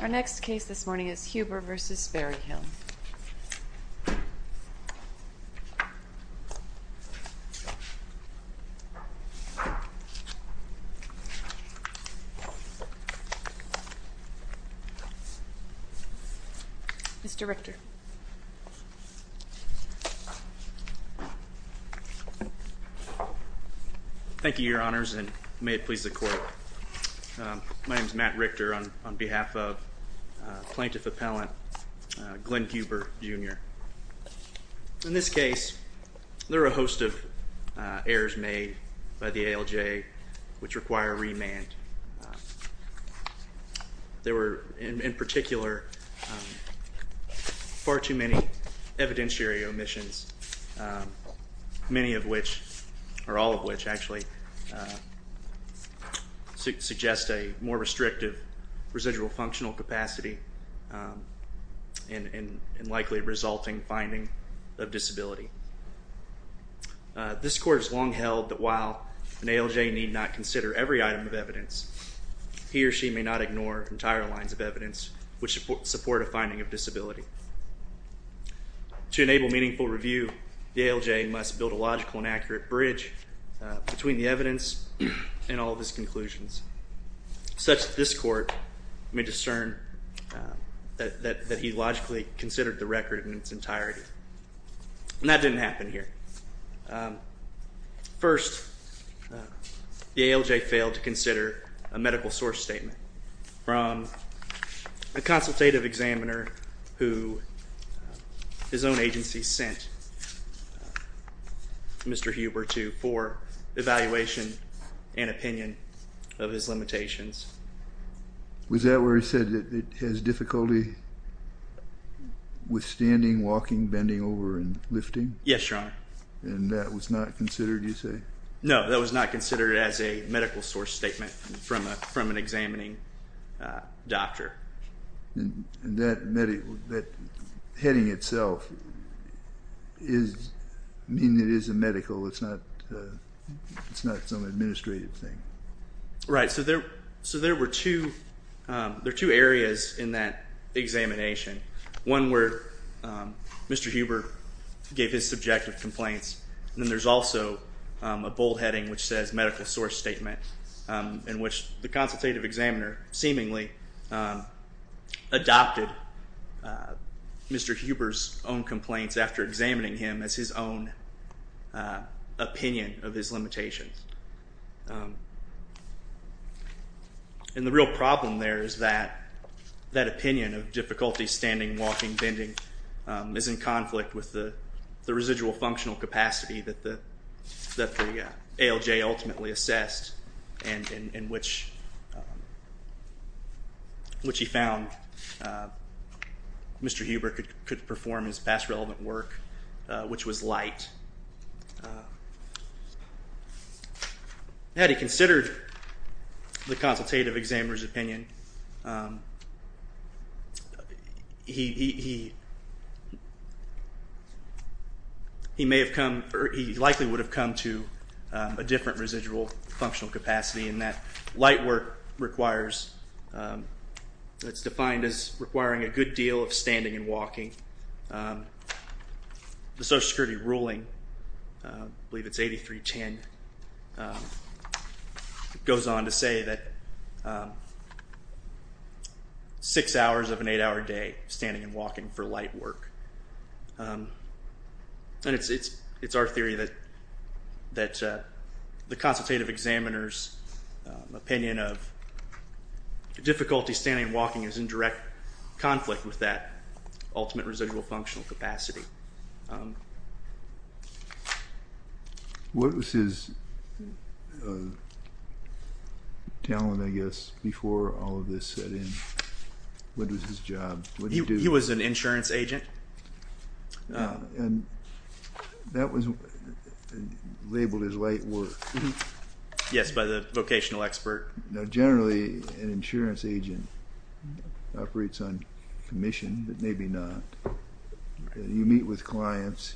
Our next case this morning is Huber v. Berryhill. Mr. Richter. Thank you, Your Honors, and may it please the Court. My name is Matt Richter on behalf of Plaintiff Appellant Glenn Huber, Jr. In this case, there were a host of errors made by the ALJ which require remand. There were, in particular, far too many evidentiary omissions, many of which, or all of which, actually, suggest a more restrictive residual functional capacity and likely resulting finding of disability. This Court has long held that while an ALJ need not consider every item of evidence, he or she may not ignore entire lines of evidence which support a finding of disability. To enable meaningful review, the ALJ must build a logical and accurate bridge between the evidence and all of its conclusions, such that this Court may discern that he logically considered the record in its entirety. And that didn't happen here. First, the ALJ failed to consider a medical source statement from a consultative examiner who his own agency sent Mr. Huber to for evaluation and opinion of his limitations. Was that where he said it has difficulty withstanding, walking, bending over, and lifting? Yes, Your Honor. And that was not considered, you say? No, that was not considered as a medical source statement from an examining doctor. And that heading itself, meaning it is a medical, it's not some administrative thing? Right, so there were two areas in that examination. One where Mr. Huber gave his subjective complaints, and then there's also a bold heading which says medical source statement in which the consultative examiner seemingly adopted Mr. Huber's own complaints after examining him as his own opinion of his limitations. And the real problem there is that that opinion of difficulty standing, walking, bending is in conflict with the residual functional capacity that the ALJ ultimately assessed and which he found Mr. Huber could perform his best relevant work, which was light. Had he considered the consultative examiner's opinion, he may have come, or he likely would have come to a different residual functional capacity in that light work requires, it's defined as requiring a good deal of standing and walking. The Social Security ruling, I believe it's 8310, goes on to say that six hours of an eight-hour day standing and walking for light work. And it's our theory that the consultative examiner's opinion of difficulty standing and walking is in direct conflict with that ultimate residual functional capacity. What was his talent, I guess, before all of this set in? What was his job? He was an insurance agent. And that was labeled as light work. Yes, by the vocational expert. Now generally an insurance agent operates on commission, but maybe not. You meet with clients.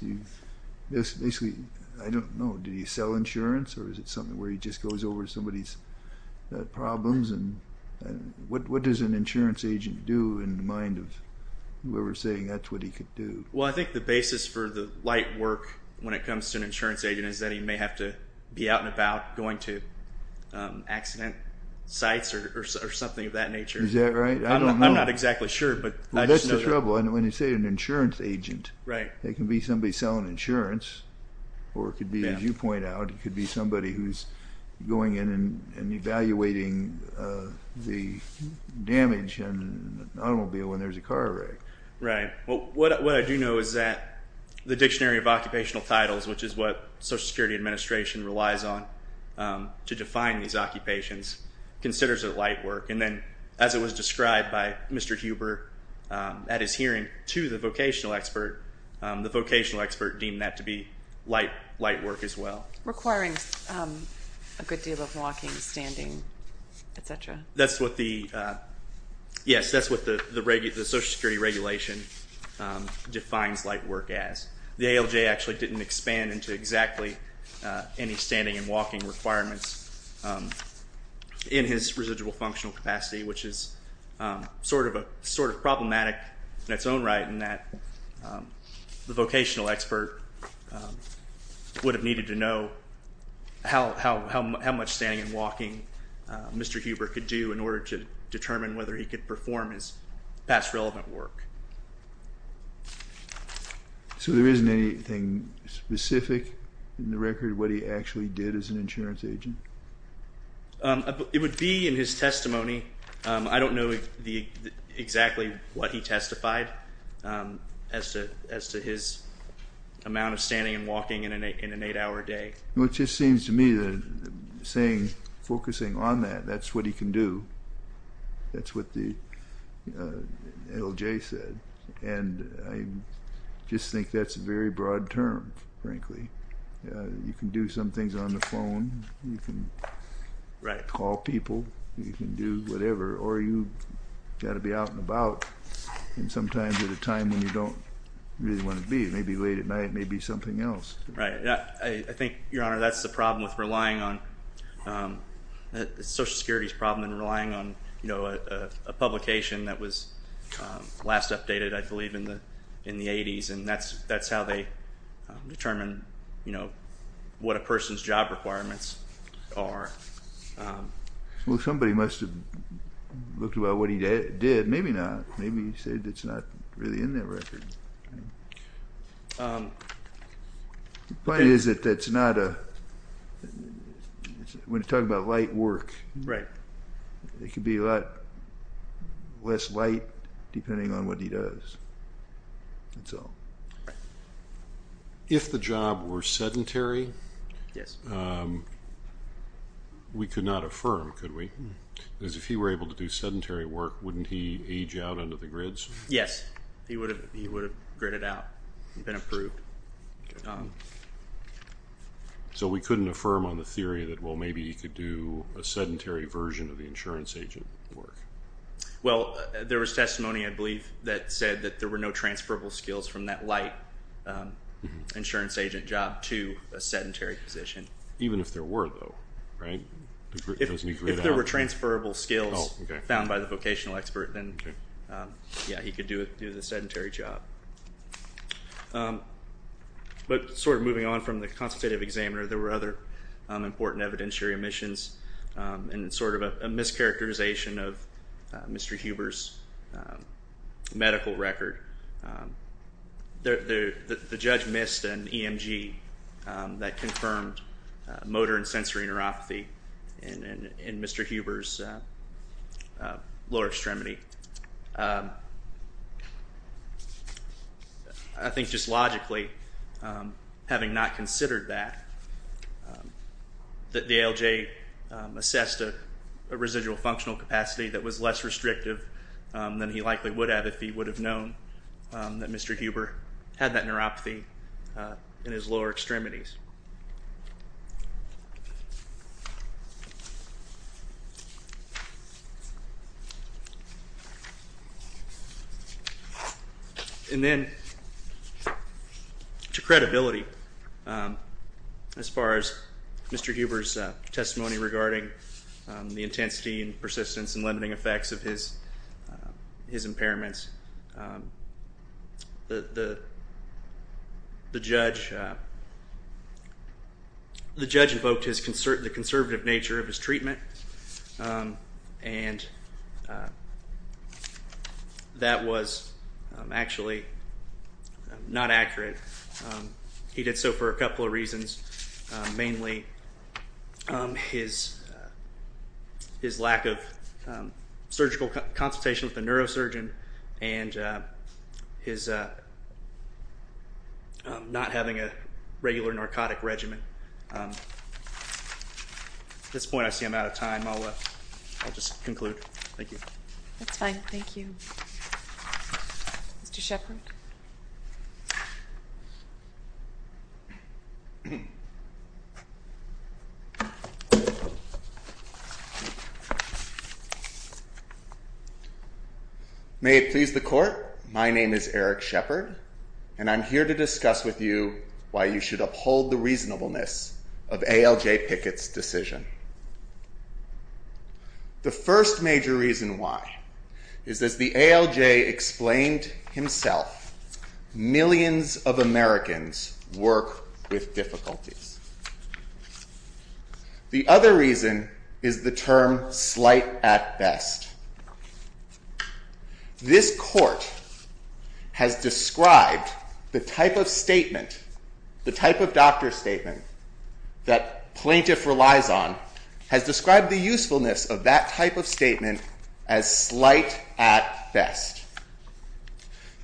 Basically, I don't know, do you sell insurance, or is it something where he just goes over somebody's problems? And what does an insurance agent do in the mind of whoever's saying that's what he could do? Well, I think the basis for the light work when it comes to an insurance agent is that he may have to be out and about going to accident sites or something of that nature. Is that right? I don't know. I'm not exactly sure, but I just know that. That's trouble. And when you say an insurance agent, it can be somebody selling insurance, or it could be, as you point out, it could be somebody who's going in and evaluating the damage in an automobile when there's a car wreck. Right. Well, what I do know is that the Dictionary of Occupational Titles, which is what the Social Security Administration relies on to define these occupations, considers it light work. And then as it was described by Mr. Huber at his hearing to the vocational expert, the vocational expert deemed that to be light work as well. Requiring a good deal of walking, standing, et cetera. Yes, that's what the Social Security Regulation defines light work as. The ALJ actually didn't expand into exactly any standing and walking requirements in his residual functional capacity, which is sort of problematic in its own right in that the vocational expert would have needed to know how much standing and walking Mr. Huber could do in order to determine whether he could perform his past relevant work. So there isn't anything specific in the record what he actually did as an insurance agent? It would be in his testimony. I don't know exactly what he testified as to his amount of standing and walking in an eight-hour day. Well, it just seems to me that focusing on that, that's what he can do. That's what the ALJ said. And I just think that's a very broad term, frankly. You can do some things on the phone. You can call people. You can do whatever. Or you've got to be out and about and sometimes at a time when you don't really want to be. It may be late at night. It may be something else. Right. I think, Your Honor, that's the problem with relying on social security's problem and relying on a publication that was last updated, I believe, in the 80s, and that's how they determine what a person's job requirements are. Well, somebody must have looked about what he did. Maybe not. Maybe he said it's not really in that record. The point is that when you talk about light work, it could be a lot less light depending on what he does. That's all. If the job were sedentary, we could not affirm, could we? Because if he were able to do sedentary work, wouldn't he age out under the grids? Yes. He would have gridded out and been approved. So we couldn't affirm on the theory that, well, maybe he could do a sedentary version of the insurance agent work. Well, there was testimony, I believe, that said that there were no transferable skills from that light insurance agent job to a sedentary position. Even if there were, though, right? If there were transferable skills found by the vocational expert, then, yeah, he could do the sedentary job. But sort of moving on from the consultative examiner, there were other important evidentiary omissions and sort of a mischaracterization of Mr. Huber's medical record. The judge missed an EMG that confirmed motor and sensory neuropathy in Mr. Huber's lower extremity. I think just logically, having not considered that, the ALJ assessed a residual functional capacity that was less restrictive than he likely would have if he would have known that Mr. Huber had that neuropathy in his lower extremities. And then to credibility, as far as Mr. Huber's testimony regarding the intensity and persistence and limiting effects of his impairments, the judge invoked the conservative nature of his treatment, and that was actually not accurate. He did so for a couple of reasons, mainly his lack of surgical consultation with a neurosurgeon and his not having a regular narcotic regimen. At this point, I see I'm out of time. I'll just conclude. Thank you. That's fine. Thank you. Mr. Shepard. May it please the Court, my name is Eric Shepard, and I'm here to discuss with you why you should uphold the reasonableness of ALJ Pickett's decision. The first major reason why is, as the ALJ explained himself, millions of Americans work with difficulties. The other reason is the term slight at best. This Court has described the type of statement, the type of doctor statement that plaintiff relies on, has described the usefulness of that type of statement as slight at best.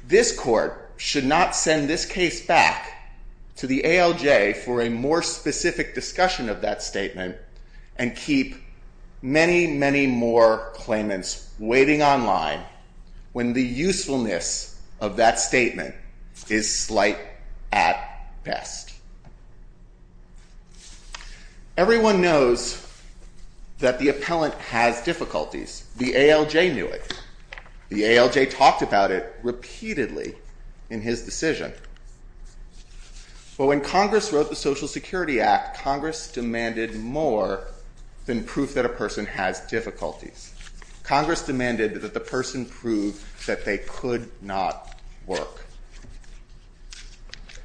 This Court should not send this case back to the ALJ for a more specific discussion of that statement and keep many, many more claimants waiting online when the usefulness of that statement is slight at best. Everyone knows that the appellant has difficulties. The ALJ knew it. The ALJ talked about it repeatedly in his decision. But when Congress wrote the Social Security Act, Congress demanded more than proof that a person has difficulties. Congress demanded that the person prove that they could not work.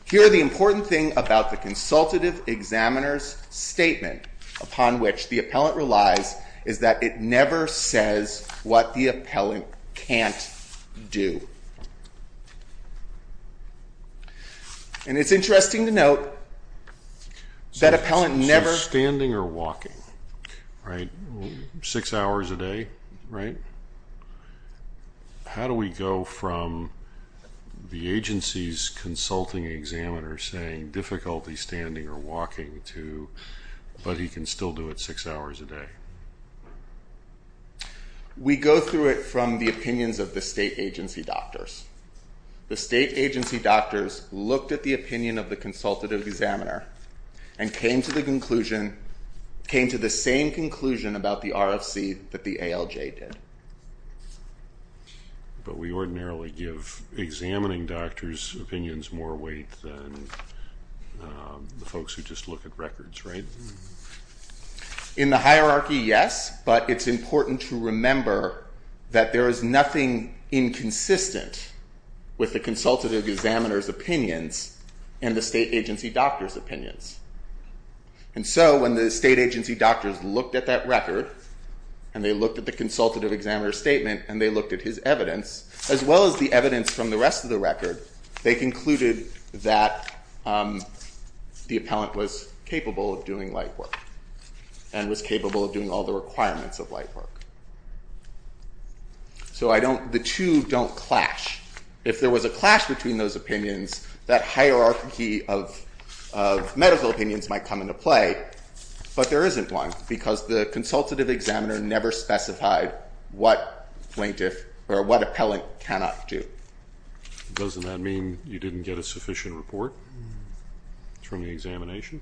Here are the important things about the consultative examiner's statement upon which the appellant relies is that it never says what the appellant can't do. And it's interesting to note that appellant never... How do we go from the agency's consulting examiner saying difficulty standing or walking to, but he can still do it six hours a day? We go through it from the opinions of the state agency doctors. The state agency doctors looked at the opinion of the consultative examiner and came to the same conclusion about the RFC that the ALJ did. But we ordinarily give examining doctors' opinions more weight than the folks who just look at records, right? In the hierarchy, yes. But it's important to remember that there is nothing inconsistent with the consultative examiner's opinions and the state agency doctor's opinions. And so when the state agency doctors looked at that record and they looked at the consultative examiner's statement and they looked at his evidence as well as the evidence from the rest of the record, they concluded that the appellant was capable of doing light work and was capable of doing all the requirements of light work. So the two don't clash. If there was a clash between those opinions, that hierarchy of medical opinions might come into play. But there isn't one because the consultative examiner never specified what plaintiff or what appellant cannot do. Doesn't that mean you didn't get a sufficient report from the examination?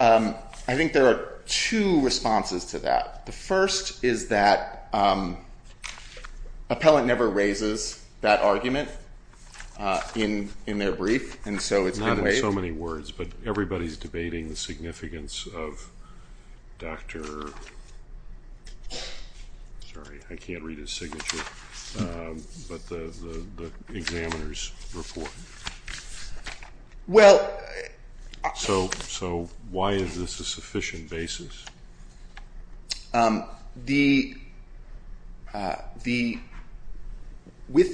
I think there are two responses to that. The first is that appellant never raises that argument in their brief, and so it's been waived. Not in so many words, but everybody's debating the significance of Dr. Sorry, I can't read his signature, but the examiner's report. So why is this a sufficient basis? With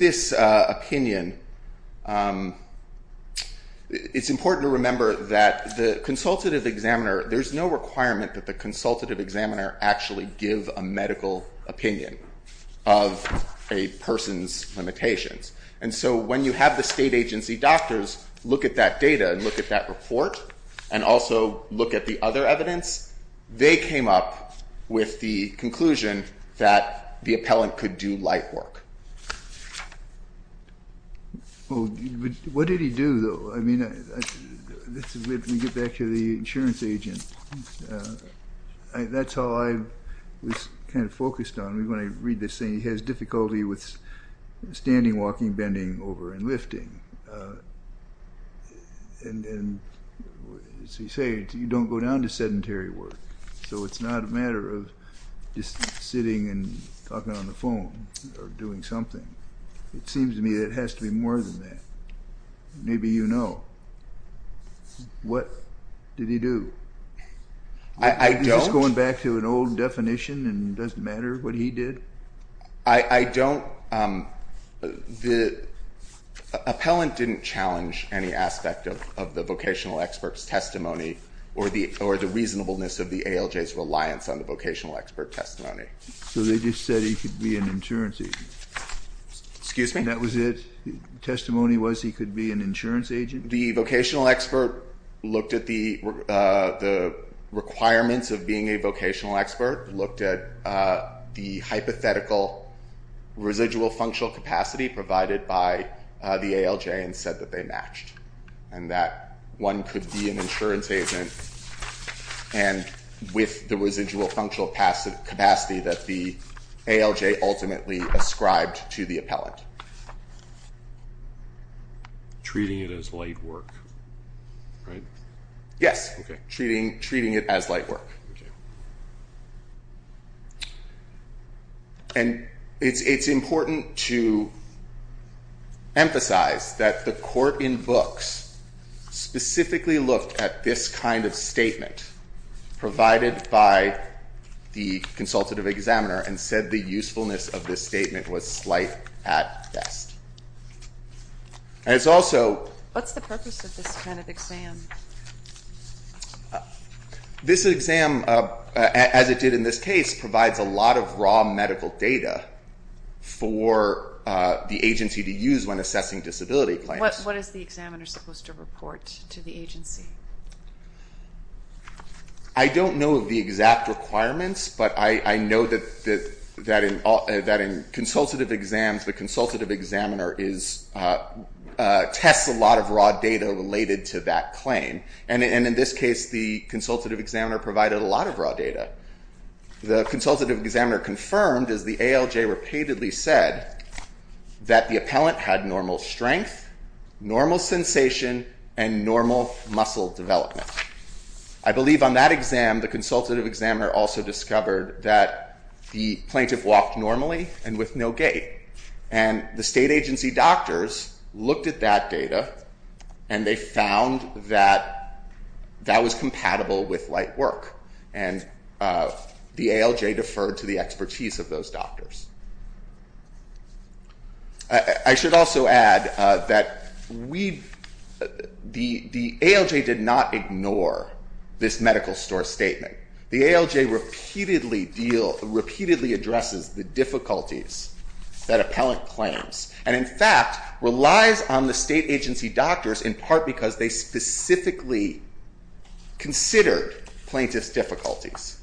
this opinion, it's important to remember that the consultative examiner, there's no requirement that the consultative examiner actually give a medical opinion of a person's limitations. And so when you have the state agency doctors look at that data and look at that report and also look at the other evidence, they came up with the conclusion that the appellant could do light work. Well, what did he do, though? I mean, let me get back to the insurance agent. That's how I was kind of focused on. I mean, when I read this thing, he has difficulty with standing, walking, bending over and lifting. As you say, you don't go down to sedentary work, so it's not a matter of just sitting and talking on the phone or doing something. It seems to me it has to be more than that. Maybe you know. What did he do? I don't. Are you going back to an old definition and it doesn't matter what he did? I don't. The appellant didn't challenge any aspect of the vocational expert's testimony or the reasonableness of the ALJ's reliance on the vocational expert testimony. So they just said he could be an insurance agent. Excuse me? And that was it? The testimony was he could be an insurance agent? The vocational expert looked at the requirements of being a vocational expert, looked at the hypothetical residual functional capacity provided by the ALJ and said that they matched and that one could be an insurance agent and with the residual functional capacity that the ALJ ultimately ascribed to the appellant. Treating it as light work, right? Yes. Okay. Treating it as light work. Okay. And it's important to emphasize that the court in books specifically looked at this kind of statement provided by the consultative examiner and said the usefulness of this statement was slight at best. What's the purpose of this kind of exam? This exam, as it did in this case, provides a lot of raw medical data for the agency to use when assessing disability claims. What is the examiner supposed to report to the agency? I don't know of the exact requirements, but I know that in consultative exams the consultative examiner tests a lot of raw data related to that claim, and in this case the consultative examiner provided a lot of raw data. The consultative examiner confirmed, as the ALJ repeatedly said, that the appellant had normal strength, normal sensation, and normal muscle development. I believe on that exam the consultative examiner also discovered that the plaintiff walked normally and with no gait, and the state agency doctors looked at that data and they found that that was compatible with light work, and the ALJ deferred to the expertise of those doctors. I should also add that the ALJ did not ignore this medical store statement. The ALJ repeatedly addresses the difficulties that appellant claims, and in fact relies on the state agency doctors in part because they specifically considered plaintiff's difficulties.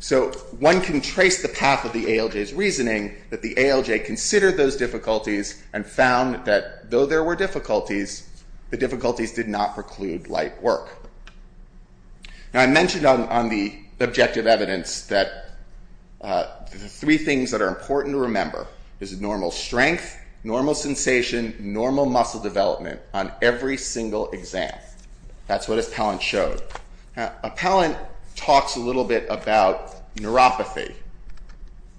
So one can trace the path of the ALJ's reasoning that the ALJ considered those difficulties and found that though there were difficulties, the difficulties did not preclude light work. Now I mentioned on the objective evidence that the three things that are important to remember is normal strength, normal sensation, normal muscle development on every single exam. That's what appellant showed. Appellant talks a little bit about neuropathy,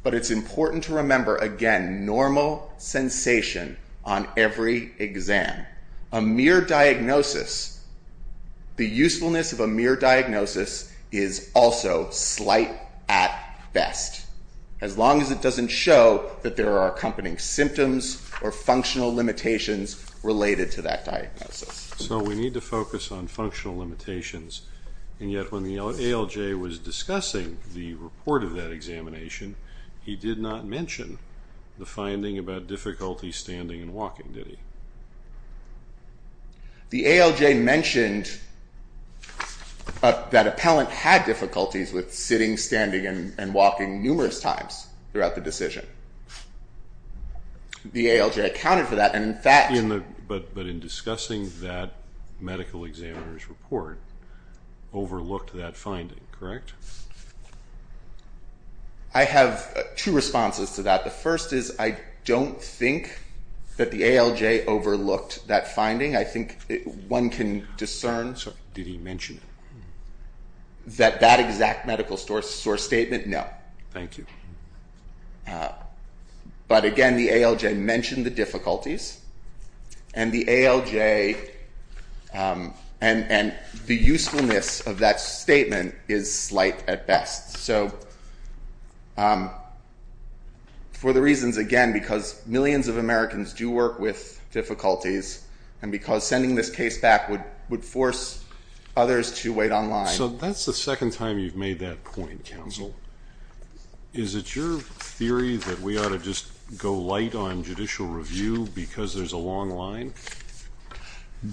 but it's important to remember again normal sensation on every exam. A mere diagnosis, the usefulness of a mere diagnosis is also slight at best, as long as it doesn't show that there are accompanying symptoms or functional limitations related to that diagnosis. So we need to focus on functional limitations, and yet when the ALJ was discussing the report of that examination, he did not mention the finding about difficulty standing and walking, did he? The ALJ mentioned that appellant had difficulties with sitting, standing, and walking numerous times throughout the decision. The ALJ accounted for that, and in fact... But in discussing that medical examiner's report, overlooked that finding, correct? I have two responses to that. The first is I don't think that the ALJ overlooked that finding. I think one can discern... Did he mention it? That that exact medical source statement, no. Thank you. But again, the ALJ mentioned the difficulties, and the ALJ and the usefulness of that statement is slight at best. So for the reasons, again, because millions of Americans do work with difficulties and because sending this case back would force others to wait on line. So that's the second time you've made that point, counsel. Is it your theory that we ought to just go light on judicial review because there's a long line?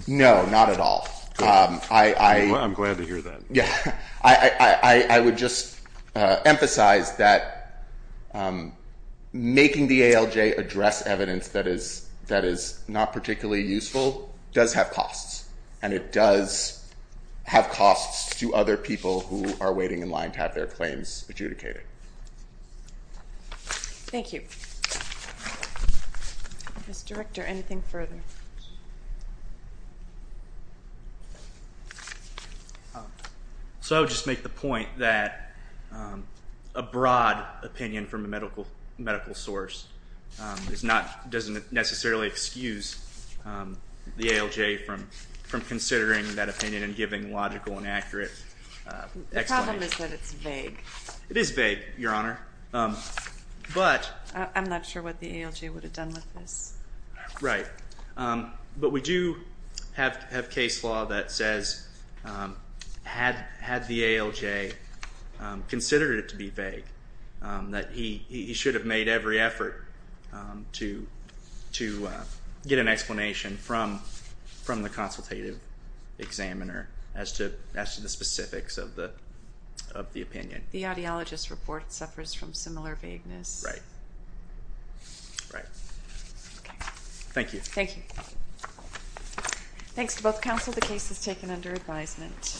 No, not at all. I'm glad to hear that. I would just emphasize that making the ALJ address evidence that is not particularly useful does have costs, and it does have costs to other people who are waiting in line to have their claims adjudicated. Thank you. Mr. Director, anything further? So I would just make the point that a broad opinion from a medical source doesn't necessarily excuse the ALJ from considering that opinion and giving logical and accurate explanation. The problem is that it's vague. It is vague, Your Honor. I'm not sure what the ALJ would have done with this. Right. But we do have case law that says had the ALJ considered it to be vague, that he should have made every effort to get an explanation from the consultative examiner as to the specifics of the opinion. The audiologist report suffers from similar vagueness. Right. Right. Thank you. Thank you. Thanks to both counsel. The case is taken under advisement.